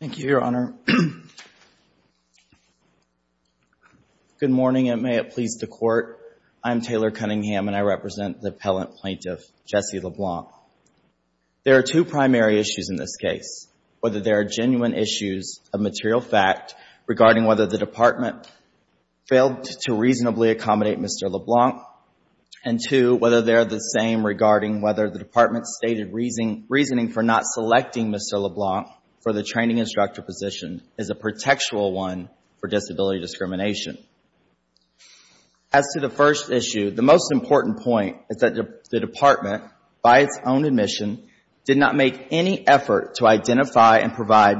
Thank you, Your Honor. Good morning, and may it please the Court, I am Taylor Cunningham and I represent the appellant plaintiff, Jesse LeBlanc. There are two primary issues in this case, whether there are genuine issues of material fact regarding whether the Department failed to reasonably accommodate Mr. LeBlanc, and two, whether they're the same regarding whether the Department's stated reasoning for not selecting Mr. LeBlanc for the training instructor position is a protectual one for disability discrimination. As to the first issue, the most important point is that the Department, by its own admission, did not make any effort to identify and provide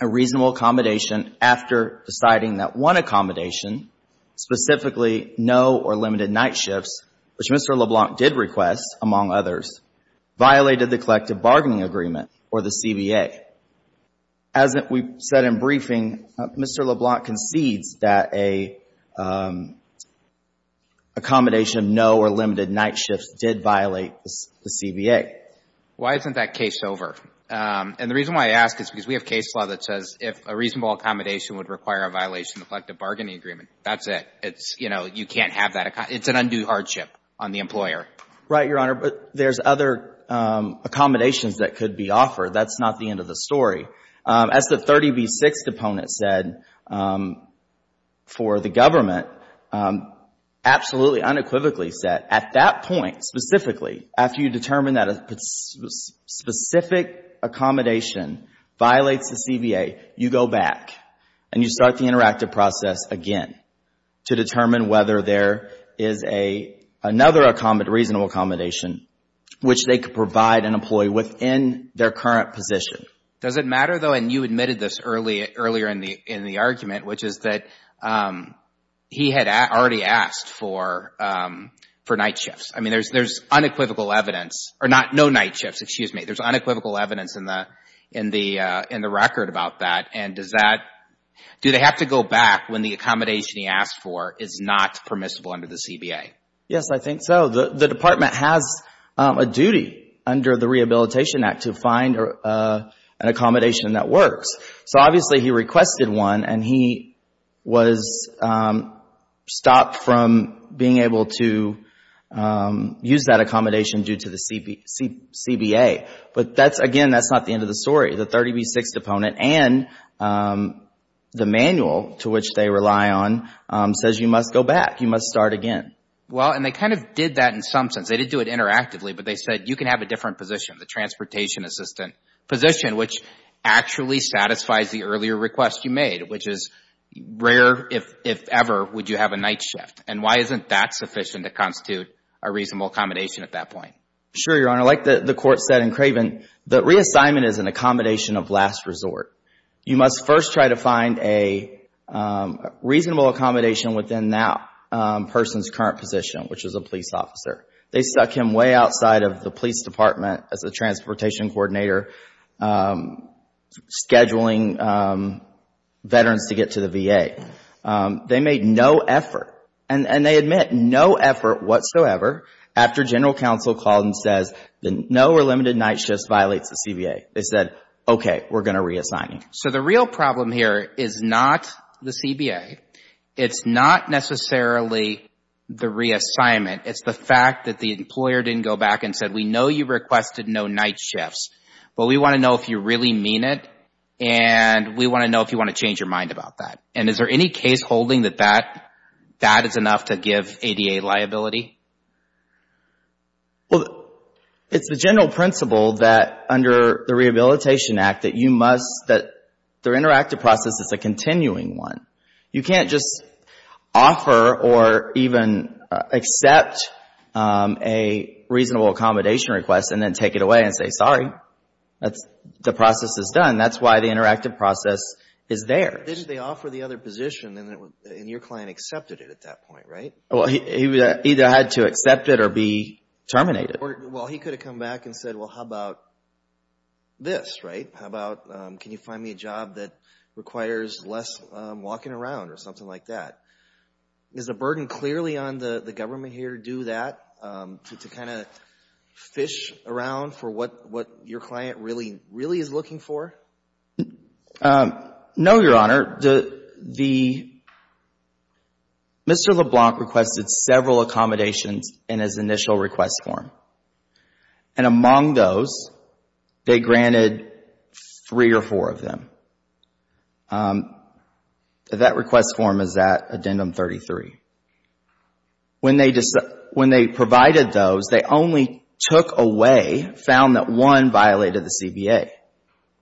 a reasonable accommodation after deciding that one accommodation, specifically no or limited night shifts, which Mr. LeBlanc did request among others, violated the Collective Bargaining Agreement, or the CBA. As we said in briefing, Mr. LeBlanc concedes that an accommodation of no or limited night shifts did violate the CBA. Jesse LeBlanc Why isn't that case over? And the reason why I ask is because we have case law that says if a reasonable accommodation would require a violation of the Collective Bargaining Agreement, that's it. It's, you know, you can't have that, it's an undue hardship on the employer. Right, Your Honor. But there's other accommodations that could be offered. That's not the end of the story. As the 30B6 component said, for the government, absolutely unequivocally said, at that point, specifically, after you determine that a specific accommodation violates the CBA, you go back and you start the interactive process again to determine whether there is another reasonable accommodation, which they could provide an employee within their current position. Judge Goldberg Does it matter, though, and you admitted this earlier in the argument, which is that he had already asked for night shifts. I mean, there's unequivocal evidence or not, no night shifts, excuse me. There's unequivocal evidence in the record about that. And does that, do they have to go back when the accommodation he asked for is not permissible under the CBA? Yes, I think so. The Department has a duty under the Rehabilitation Act to find an accommodation that works. So, obviously, he requested one and he was stopped from being able to use that accommodation due to the CBA. But that's, again, that's not the end of the story. The manual, to which they rely on, says you must go back. You must start again. Well, and they kind of did that in some sense. They didn't do it interactively, but they said you can have a different position, the transportation assistant position, which actually satisfies the earlier request you made, which is rare, if ever, would you have a night shift. And why isn't that sufficient to constitute a reasonable accommodation at that point? Sure, Your Honor. Like the Court said in Craven, the reassignment is an accommodation of last resort. You must first try to find a reasonable accommodation within that person's current position, which is a police officer. They stuck him way outside of the police department as a transportation coordinator scheduling veterans to get to the VA. They made no effort and they admit no effort whatsoever after general counsel called and said no or limited night shifts violates the CBA. They said, okay, we're going to reassign him. So the real problem here is not the CBA. It's not necessarily the reassignment. It's the fact that the employer didn't go back and said, we know you requested no night shifts, but we want to know if you really mean it and we want to know if you want to change your mind about that. And is there any case holding that that is enough to give ADA liability? Well, it's the general principle that under the Rehabilitation Act that you must, that their interactive process is a continuing one. You can't just offer or even accept a reasonable accommodation request and then take it away and say, sorry, the process is done. That's why the interactive process is theirs. But they offer the other position and your client accepted it at that point, right? Well, he either had to accept it or be terminated. Well, he could have come back and said, well, how about this, right? How about, can you find me a job that requires less walking around or something like that? Is the burden clearly on the government here to do that, to kind of fish around for what your client really, really is looking for? No, Your Honor. The, Mr. LeBlanc requested several accommodations in his initial request form. And among those, they granted three or four of them. That request form is at Addendum 33. When they provided those, they only took away, found that one violated the CBA.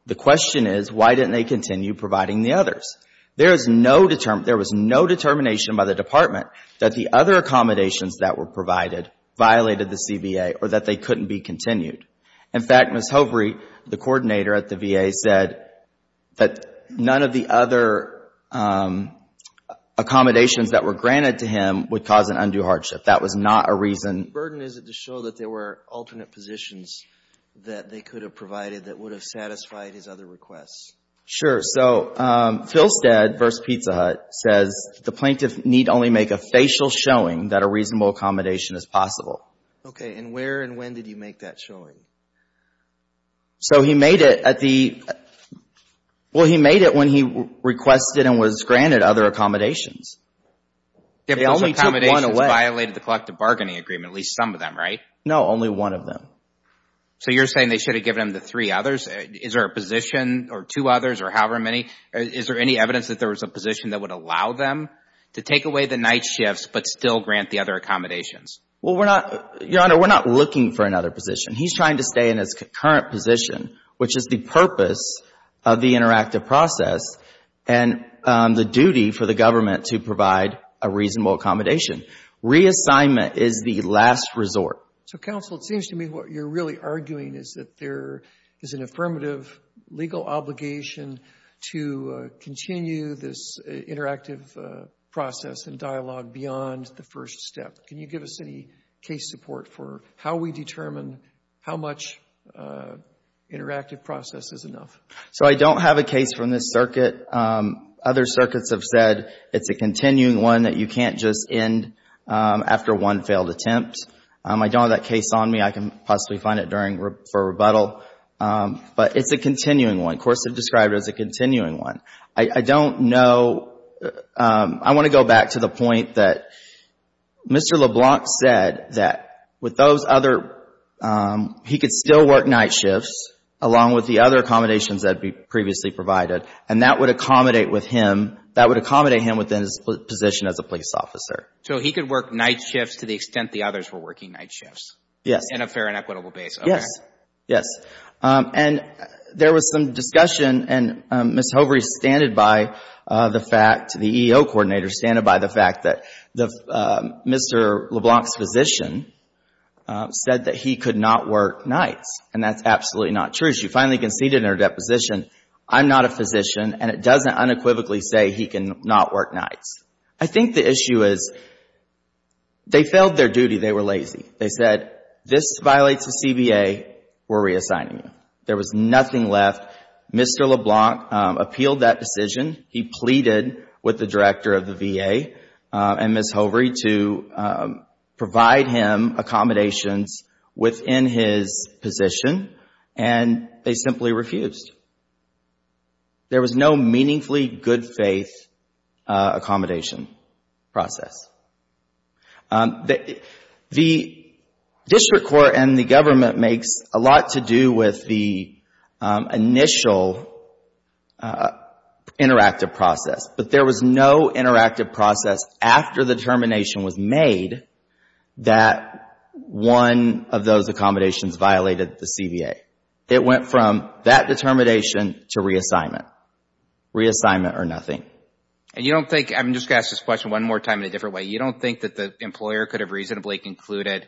The question is, why didn't they continue providing the others? There is no, there was no determination by the Department that the other accommodations that were provided violated the CBA or that they couldn't be continued. In fact, Ms. Hovery, the coordinator at the VA, said that none of the other accommodations that were granted to him would cause an undue hardship. That was not a reason. What burden is it to show that there were alternate positions that they could have provided that would have satisfied his other requests? Sure. So, Filstead v. Pizza Hut says, the plaintiff need only make a facial showing that a reasonable accommodation is possible. Okay. And where and when did you make that showing? So he made it at the, well, he made it when he requested and was granted other accommodations. They only took one away. If those accommodations violated the collective bargaining agreement, at least some of them, right? No, only one of them. So you're saying they should have given him the three others? Is there a position or two others or however many? Is there any evidence that there was a position that would allow them to take away the night shifts but still grant the other accommodations? Well, we're not, Your Honor, we're not looking for another position. He's trying to stay in his current position, which is the purpose of the interactive process and the duty for the government to provide a reasonable accommodation. Reassignment is the last resort. So, counsel, it seems to me what you're really arguing is that there is an affirmative legal obligation to continue this interactive process and dialogue beyond the first step. Can you give us any case support for how we determine how much interactive process is enough? So I don't have a case from this circuit. Other circuits have said it's a continuing one that you can't just end after one failed attempt. I don't have that case on me. I can possibly find it for rebuttal. But it's a continuing one. Courts have described it as a continuing one. I don't know, I want to go back to the point that Mr. LeBlanc said that with those other, he could still work night shifts along with the other accommodations that were previously provided and that would accommodate with him, that would accommodate him within his position as a police officer. So he could work night shifts to the extent the others were working night shifts? Yes. In a fair and equitable basis? Yes. Yes. And there was some discussion and Ms. Hovery standed by the fact, the EEO coordinator standed by the fact that Mr. LeBlanc's physician said that he could not work nights and that's absolutely not true. She finally conceded in her deposition, I'm not a physician and it doesn't unequivocally say he can not work nights. I think the issue is, they failed their duty, they were lazy. They said, this violates the CBA, we're reassigning you. There was nothing left. Mr. LeBlanc appealed that decision. He pleaded with the director of the VA and Ms. Hovery to provide him accommodations within his position and they simply refused. There was no meaningfully good faith accommodation process. The district court and the government makes a lot to do with the initial interactive process, but there was no interactive process after the determination was made that one of those accommodations violated the CBA. It went from that determination to reassignment. Reassignment or nothing. You don't think, I'm just going to ask this question one more time in a different way. You don't think that the employer could have reasonably concluded,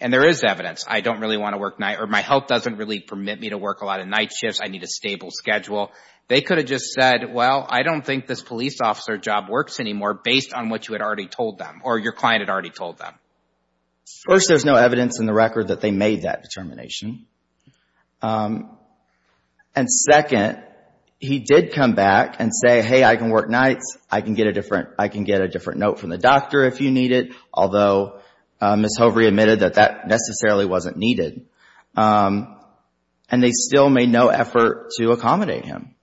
and there is evidence, I don't really want to work night or my health doesn't really permit me to work a lot of night shifts, I need a stable schedule. They could have just said, well, I don't think this police officer job works anymore based on what you had already told them or your client had already told them. First, there is no evidence in the record that they made that determination. Second, he did come back and say, hey, I can work nights. I can get a different note from the doctor if you need it, although Ms. Hovery admitted that that necessarily wasn't needed. They still made no effort to accommodate him.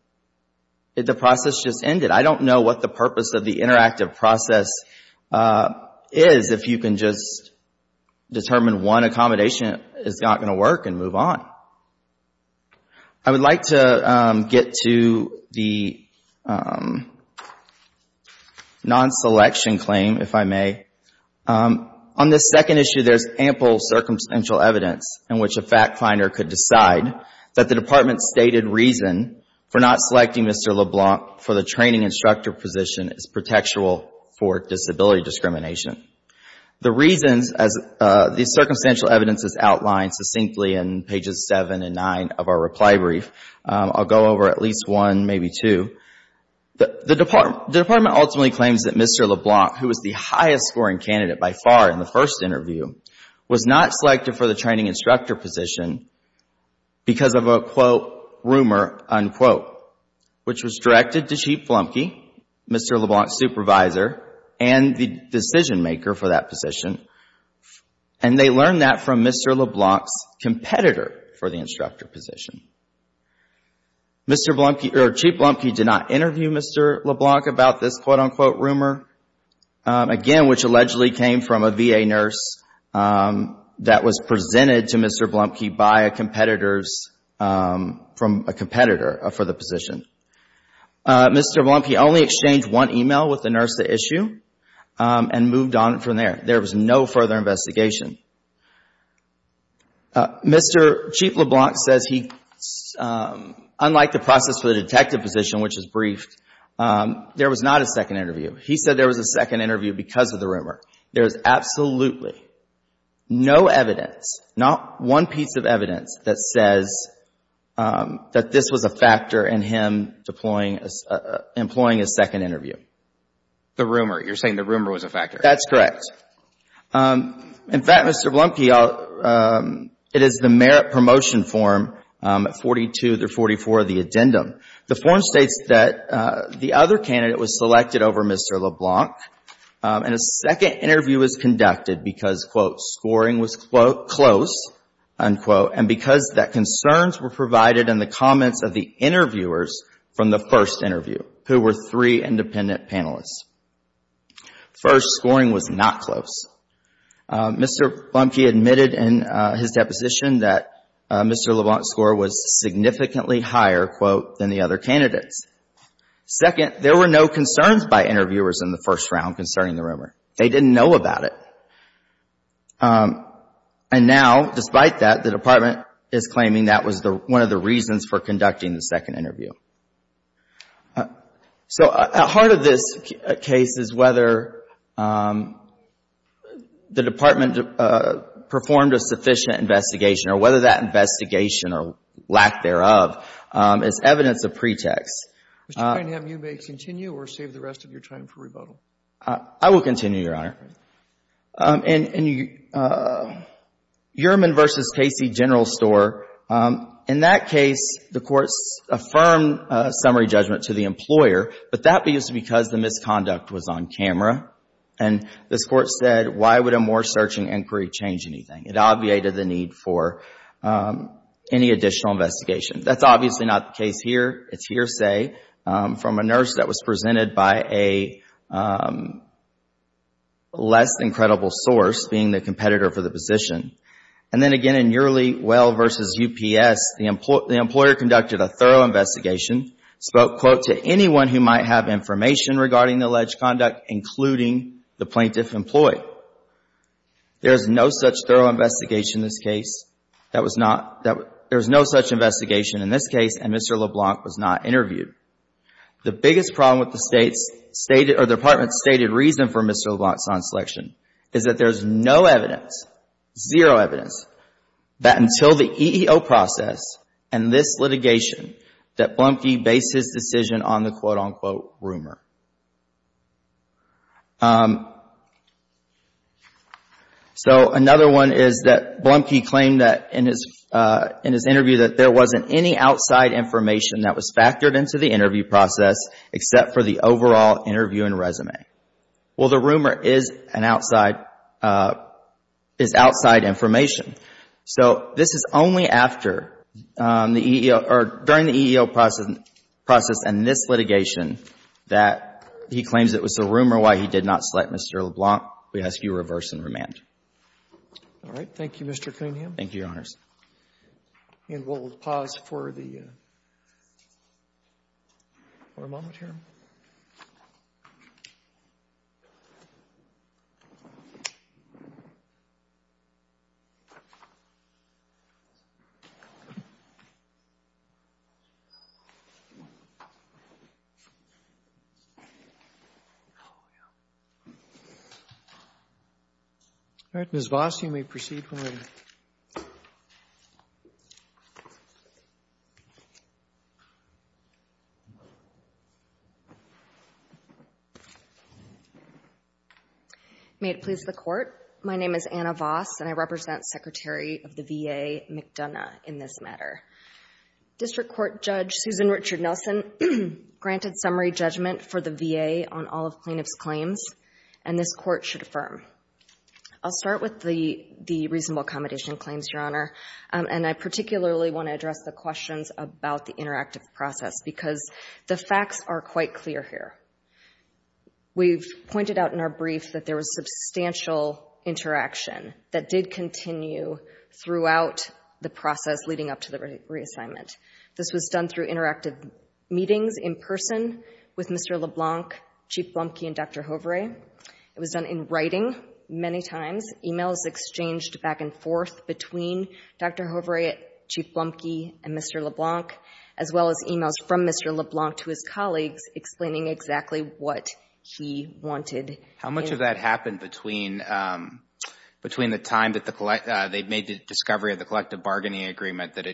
The process just ended. I don't know what the purpose of the interactive process is if you can just determine one accommodation is not going to work and move on. I would like to get to the non-selection claim, if I may. On this second issue, there is ample circumstantial evidence in which a fact finder could decide that the department stated reason for not selecting Mr. LeBlanc for the training instructor position is protectual for disability discrimination. The reasons, as the circumstantial evidence is outlined succinctly in pages seven and nine of our reply brief, I'll go over at least one, maybe two. The department ultimately claims that Mr. LeBlanc, who was the highest scoring candidate by far in the first interview, was not selected for the training instructor position because of a, quote, rumor, unquote, which was directed to Chief Blumke, Mr. LeBlanc's supervisor and the decision maker for that position. They learned that from Mr. LeBlanc's competitor for the instructor position. Chief Blumke did not interview Mr. LeBlanc about this, quote, unquote, rumor, again, which allegedly came from a VA nurse that was presented to Mr. Blumke by a competitor for the position. Mr. Blumke only exchanged one email with the nurse the issue and moved on from there. There was no further investigation. Mr. Chief LeBlanc says he, unlike the process for the detective position, which is briefed, there was not a second interview. He said there was a second interview because of the rumor. There is absolutely no evidence, not one piece of evidence that says that this was a factor in him deploying, employing a second interview. The rumor. You're saying the rumor was a factor. That's correct. In fact, Mr. Blumke, it is the merit promotion form 42-44, the addendum. The form states that the other candidate was selected over Mr. LeBlanc and a second interview was conducted because, quote, scoring was, quote, close, unquote, and because that concerns were provided in the comments of the interviewers from the first interview, who were three independent panelists. First, scoring was not close. Mr. Blumke admitted in his deposition that Mr. LeBlanc's score was significantly higher, quote, than the other candidates. Second, there were no concerns by interviewers in the first round concerning the rumor. They didn't know about it. And now, despite that, the department is claiming that was one of the reasons for conducting the second interview. So at heart of this case is whether the department performed a sufficient investigation or whether that investigation or lack thereof is evidence of pretext. Mr. Cunningham, you may continue or save the rest of your time for rebuttal. I will continue, Your Honor. And Uriman v. Casey, General Store, in that case, the courts affirmed summary judgment to the employer, but that was because the misconduct was on camera. And this Court said, why would a more searching inquiry change anything? It obviated the need for any additional investigation. That's obviously not the case here. It's hearsay from a nurse that was presented by a less than credible source being the competitor for the position. And then again, in Yearly Well v. UPS, the employer conducted a thorough investigation, spoke, quote, to anyone who might have information regarding the alleged conduct, including the plaintiff employee. There is no such thorough investigation in this case. There was no such investigation in this case, and Mr. LeBlanc was not interviewed. The biggest problem with the department's stated reason for Mr. LeBlanc's non-selection is that there is no evidence, zero evidence, that until the EEO process and this litigation that Blumke based his decision on the quote, unquote, rumor. So, another one is that Blumke claimed that in his interview that there wasn't any outside information that was factored into the interview process, except for the overall interview and resume. Well, the rumor is outside information. So, this is only during the EEO process and this litigation that he claims it was a rumor why he did not select Mr. LeBlanc. We ask you reverse and remand. All right. Thank you, Mr. Cunningham. Thank you, Your Honors. And we'll pause for the, for a moment here. All right. Ms. Voss, you may proceed when ready. May it please the Court. My name is Anna Voss, and I represent Secretary of the VA McDonough in this matter. District Court Judge Susan Richard Nelson granted summary judgment for the VA on all of plaintiff's claims, and this Court should affirm. I'll start with the reasonable accommodation claims, Your Honor, and I particularly want to address the questions about the interactive process because the facts are quite clear here. We've pointed out in our brief that there was substantial interaction that did continue throughout the process leading up to the reassignment. This was done through interactive meetings in person with Mr. LeBlanc, Chief Blumke, and Dr. Hoveray. It was done in writing many times, emails exchanged back and forth between Dr. Hoveray, Chief Blumke, and Mr. LeBlanc, as well as emails from Mr. LeBlanc to his colleagues explaining exactly what he wanted. How much of that happened between the time that they made the discovery of the collective bargaining agreement that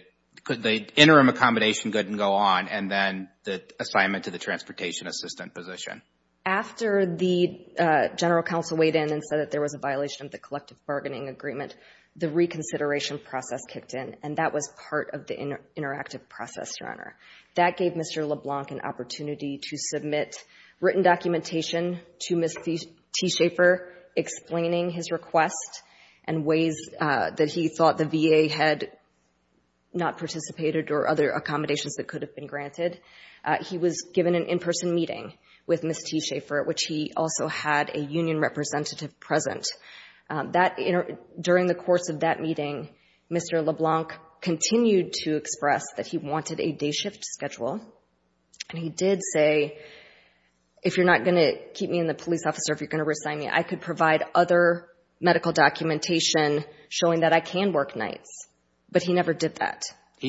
the interim accommodation couldn't go on and then the assignment to the transportation assistant position? After the General Counsel weighed in and said that there was a violation of the collective bargaining agreement, the reconsideration process kicked in, and that was part of the interactive process, Your Honor. That gave Mr. LeBlanc an opportunity to submit written documentation to Ms. T. Schaefer explaining his request and ways that he thought the VA had not participated or other accommodations that could have been granted. He was given an in-person meeting with Ms. T. Schaefer, which he also had a union representative present. During the course of that meeting, Mr. LeBlanc continued to express that he wanted a day He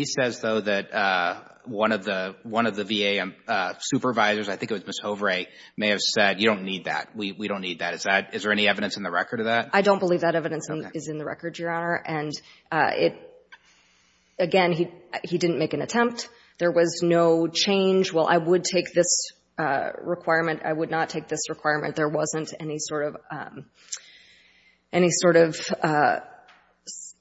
says, though, that one of the VA supervisors, I think it was Ms. Hoveray, may have said, you don't need that. We don't need that. Is there any evidence in the record of that? I don't believe that evidence is in the record, Your Honor. Again, he didn't make an attempt. There was no change. Well, I would take this requirement. I would not take this requirement. There wasn't any sort of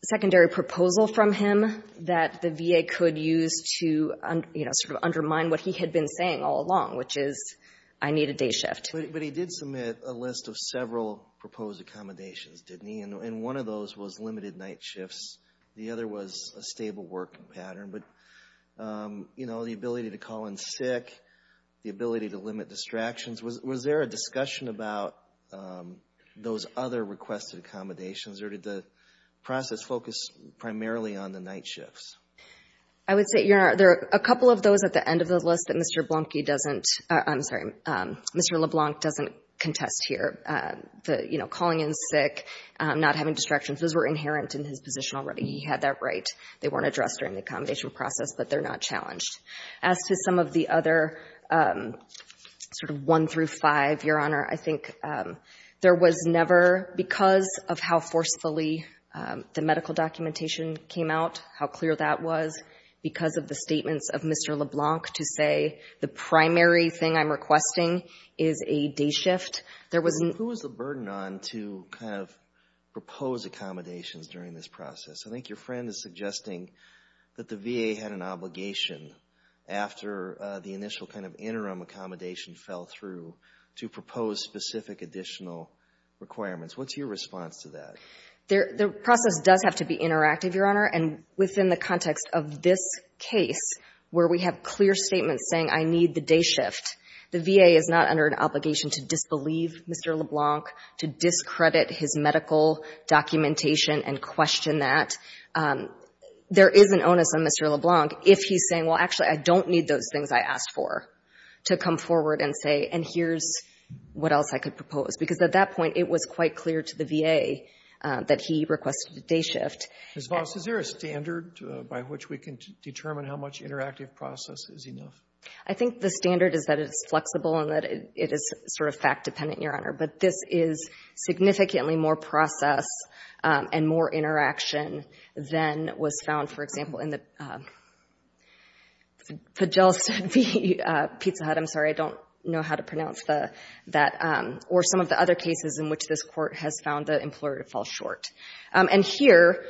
secondary proposal from him that the VA could use to, you know, sort of undermine what he had been saying all along, which is I need a day shift. But he did submit a list of several proposed accommodations, didn't he? And one of those was limited night shifts. The other was a stable work pattern. But, you know, the ability to call in sick, the ability to limit distractions. Was there a discussion about those other requested accommodations or did the process focus primarily on the night shifts? I would say, Your Honor, there are a couple of those at the end of the list that Mr. LeBlanc doesn't, I'm sorry, Mr. LeBlanc doesn't contest here. You know, calling in sick, not having distractions, those were inherent in his position already. He had that right. They weren't addressed during the accommodation process, but they're not challenged. As to some of the other sort of 1 through 5, Your Honor, I think there was never, because of how forcefully the medical documentation came out, how clear that was, because of the primary thing I'm requesting is a day shift. Who was the burden on to kind of propose accommodations during this process? I think your friend is suggesting that the VA had an obligation after the initial kind of interim accommodation fell through to propose specific additional requirements. What's your response to that? The process does have to be interactive, Your Honor. And within the context of this case, where we have clear statements saying I need the day shift, the VA is not under an obligation to disbelieve Mr. LeBlanc, to discredit his medical documentation and question that. There is an onus on Mr. LeBlanc if he's saying, well, actually, I don't need those things I asked for to come forward and say, and here's what else I could propose. Because at that point, it was quite clear to the VA that he requested a day shift. Ms. Voss, is there a standard by which we can determine how much interactive process is enough? I think the standard is that it's flexible and that it is sort of fact-dependent, Your Honor. But this is significantly more process and more interaction than was found, for example, in the Fijelstad v. Pizza Hut, I'm sorry, I don't know how to pronounce that, or some of the other cases in which this court has found the employer to fall short. And here,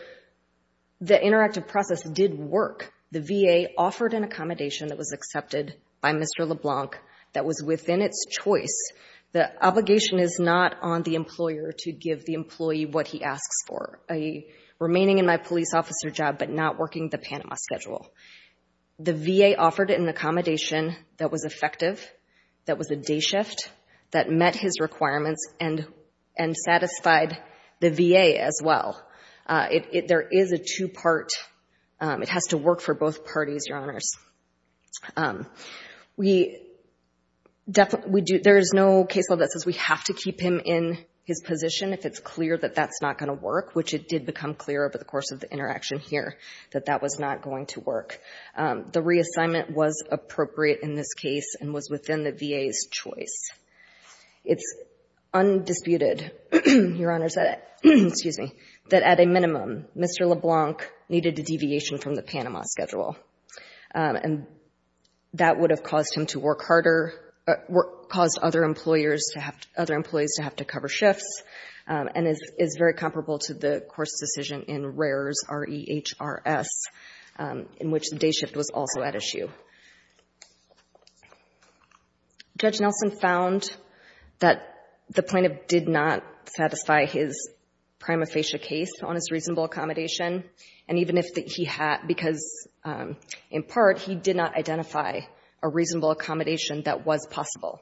the interactive process did work. The VA offered an accommodation that was accepted by Mr. LeBlanc that was within its choice. The obligation is not on the employer to give the employee what he asks for, a remaining-in-my-police-officer job but not working the Panama schedule. The VA offered an accommodation that was effective, that was a day shift, that met his requirements, and satisfied the VA as well. There is a two-part, it has to work for both parties, Your Honors. There is no case law that says we have to keep him in his position if it's clear that that's not going to work, which it did become clear over the course of the interaction here that that was not going to work. The reassignment was appropriate in this case and was within the VA's choice. It's undisputed, Your Honors, that at a minimum, Mr. LeBlanc needed a deviation from the Panama schedule. And that would have caused him to work harder, caused other employees to have to cover shifts, and is very comparable to the course decision in Rares, R-E-H-R-S, in which the day shift was also at issue. Judge Nelson found that the plaintiff did not satisfy his prima facie case on his reasonable accommodation, and even if he had, because in part he did not identify a reasonable accommodation that was possible.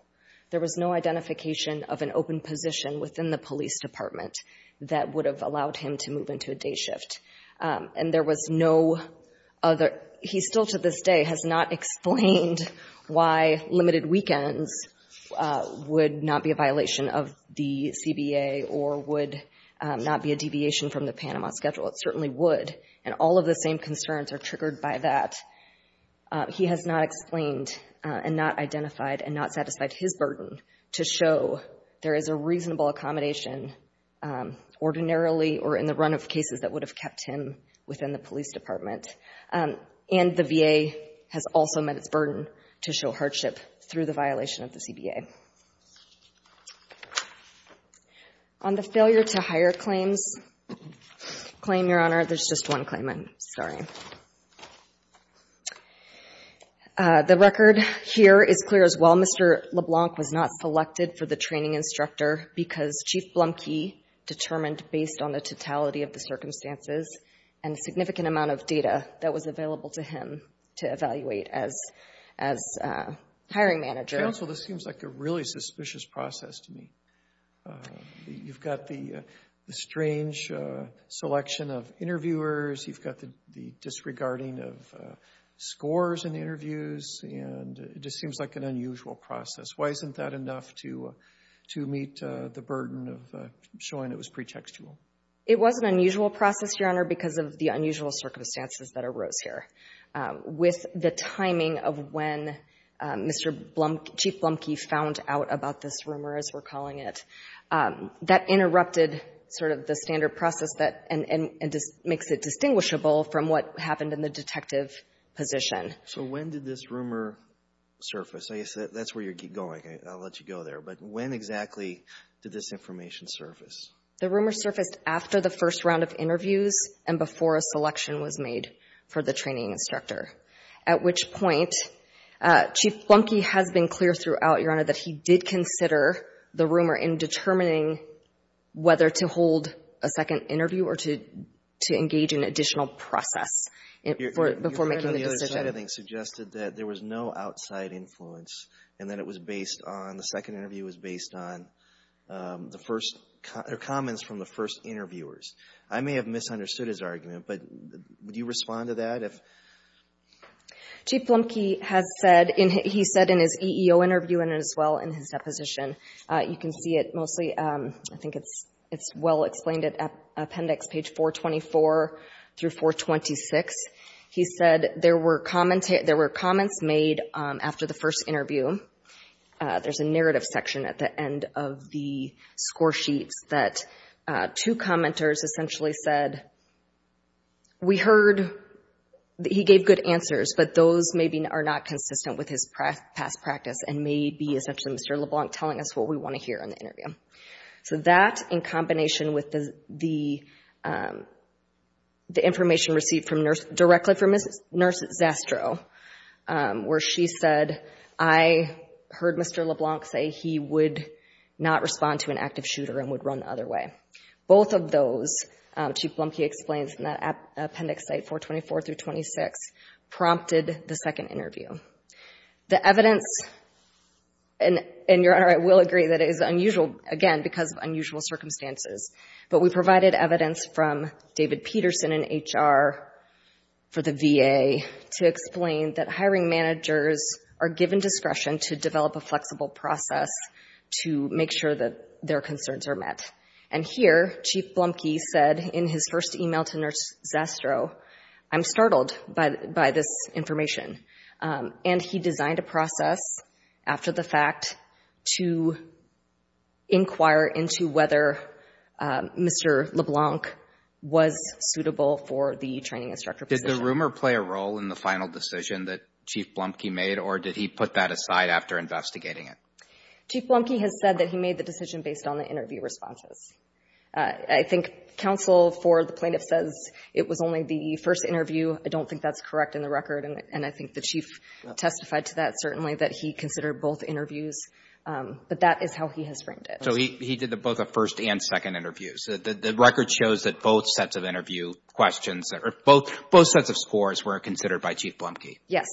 There was no identification of an open position within the police department that would have allowed him to move into a day shift. And there was no other, he still to this day has not explained why limited weekends would not be a violation of the CBA or would not be a deviation from the Panama schedule. It certainly would, and all of the same concerns are triggered by that. He has not explained and not identified and not satisfied his burden to show there is a ordinarily or in the run of cases that would have kept him within the police department. And the VA has also met its burden to show hardship through the violation of the CBA. On the failure to hire claims claim, Your Honor, there's just one claimant. Sorry. The record here is clear as well. Mr. LeBlanc was not selected for the training instructor because Chief Blumke determined based on the totality of the circumstances and a significant amount of data that was available to him to evaluate as hiring manager. Counsel, this seems like a really suspicious process to me. You've got the strange selection of interviewers, you've got the disregarding of scores in interviews, and it just seems like an unusual process, Your Honor, because of the unusual circumstances that arose here. With the timing of when Mr. Blumke, Chief Blumke found out about this rumor, as we're calling it, that interrupted sort of the standard process that makes it distinguishable from what happened in the detective position. So when did this rumor surface? That's where you keep going. I'll let you go there. But when exactly did this information surface? The rumor surfaced after the first round of interviews and before a selection was made for the training instructor, at which point Chief Blumke has been clear throughout, Your Honor, that he did consider the rumor in determining whether to hold a second interview or to engage in an additional process before making the decision. Your side, I think, suggested that there was no outside influence and that it was based on, the second interview was based on the first, or comments from the first interviewers. I may have misunderstood his argument, but would you respond to that? Chief Blumke has said, he said in his EEO interview and as well in his deposition, you can see it mostly, I think it's well explained at appendix page 424 through 426, he said there were comments made after the first interview. There's a narrative section at the end of the score sheets that two commenters essentially said, we heard that he gave good answers, but those maybe are not consistent with his past practice and may be essentially Mr. LeBlanc telling us what we want to hear in the interview. So that in combination with the information directly from Nurse Zastrow, where she said, I heard Mr. LeBlanc say he would not respond to an active shooter and would run the other way. Both of those, Chief Blumke explains in that appendix site 424 through 426, prompted the second interview. The evidence, and Your Honor, I will agree that it is unusual, again, because of unusual circumstances, but we provided evidence from David Peterson in HR for the VA to explain that hiring managers are given discretion to develop a flexible process to make sure that their concerns are met. And here, Chief Blumke said in his first email to Nurse Zastrow, I'm startled by this information. And he designed a process after the fact to inquire into whether Mr. LeBlanc was suitable for the training instructor position. Did the rumor play a role in the final decision that Chief Blumke made or did he put that aside after investigating it? Chief Blumke has said that he made the decision based on the interview responses. I think counsel for the plaintiff says it was only the first interview. I don't think that's correct in the record. And I think the Chief testified to that, certainly, that he considered both interviews. But that is how he has framed it. So he did both a first and second interview. So the record shows that both sets of interview questions or both sets of scores were considered by Chief Blumke? Yes.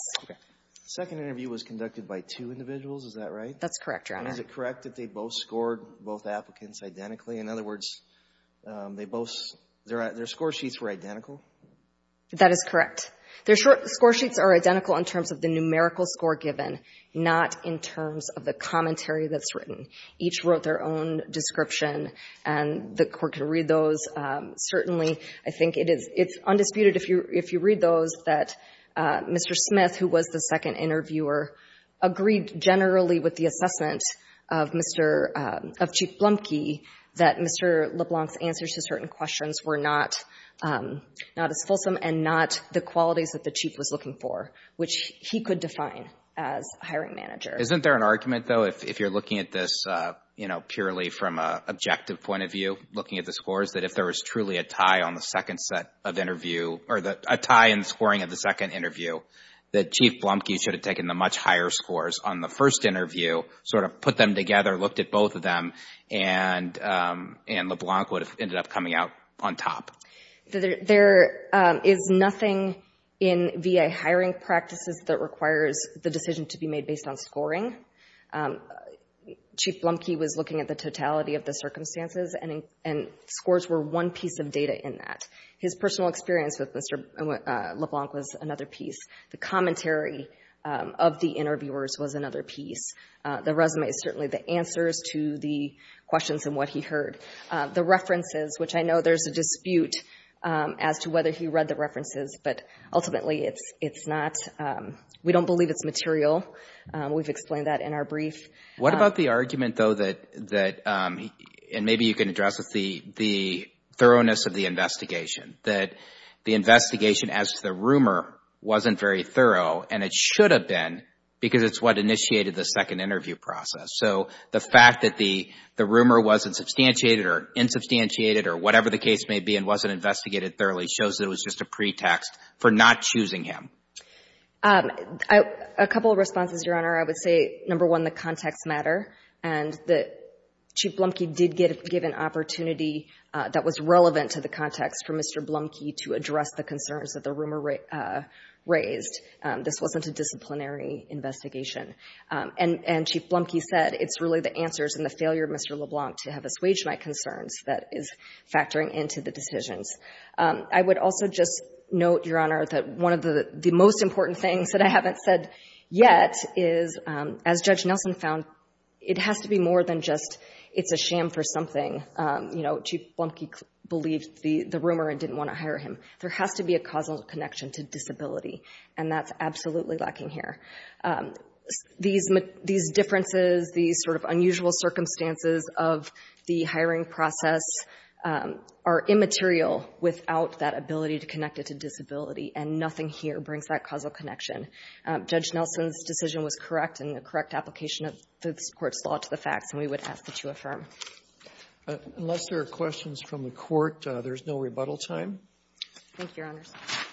Second interview was conducted by two individuals, is that right? That's correct, Your Honor. Is it correct that they both scored both applicants identically? In other words, they both, their score sheets were identical? That is correct. Their score sheets are identical in terms of the numerical score given, not in terms of the commentary that's written. Each wrote their own description and the court could read those. Certainly, I think it's undisputed if you read those that Mr. Smith, who was the second interviewer, agreed generally with the assessment of Chief Blumke that Mr. Smith was not as fulsome and not the qualities that the Chief was looking for, which he could define as a hiring manager. Isn't there an argument, though, if you're looking at this purely from an objective point of view, looking at the scores, that if there was truly a tie on the second set of interview, or a tie in the scoring of the second interview, that Chief Blumke should have taken the much higher scores on the first interview, sort of put them together, looked at both of them, and LeBlanc would have ended up coming out on top? There is nothing in VA hiring practices that requires the decision to be made based on scoring. Chief Blumke was looking at the totality of the circumstances and scores were one piece of data in that. His personal experience with Mr. LeBlanc was another piece. The commentary of the interviewers was another piece. The resume is certainly the answers to the questions and what he heard. The references, which I know there's a dispute as to whether he read the references, but ultimately it's not. We don't believe it's material. We've explained that in our brief. What about the argument, though, that, and maybe you can address this, the thoroughness of the investigation, that the investigation as to the rumor wasn't very thorough and it should have been because it's what initiated the second interview process? So the fact that the rumor wasn't substantiated or insubstantiated or whatever the case may be and wasn't investigated thoroughly shows that it was just a pretext for not choosing him. A couple of responses, Your Honor. I would say, number one, the context matter, and that Chief Blumke did give an opportunity that was relevant to the context for Mr. Blumke to address the concerns that the rumor raised. This wasn't a disciplinary investigation. And Chief Blumke said it's really the answers and the failure of Mr. LeBlanc to have assuaged my concerns that is factoring into the decisions. I would also just note, Your Honor, that one of the most important things that I haven't said yet is, as Judge Nelson found, it has to be more than just it's a sham for something. You know, Chief Blumke believed the rumor and didn't want to hire him. There has to be a causal connection to disability, and that's absolutely lacking here. These differences, these sort of unusual circumstances of the hiring process are immaterial without that ability to connect it to disability, and nothing here brings that causal connection. Judge Nelson's decision was correct in the correct application of this Court's law to the facts, and we would ask that you affirm. Unless there are questions from the Court, there's no rebuttal time. Thank you, Your Honors.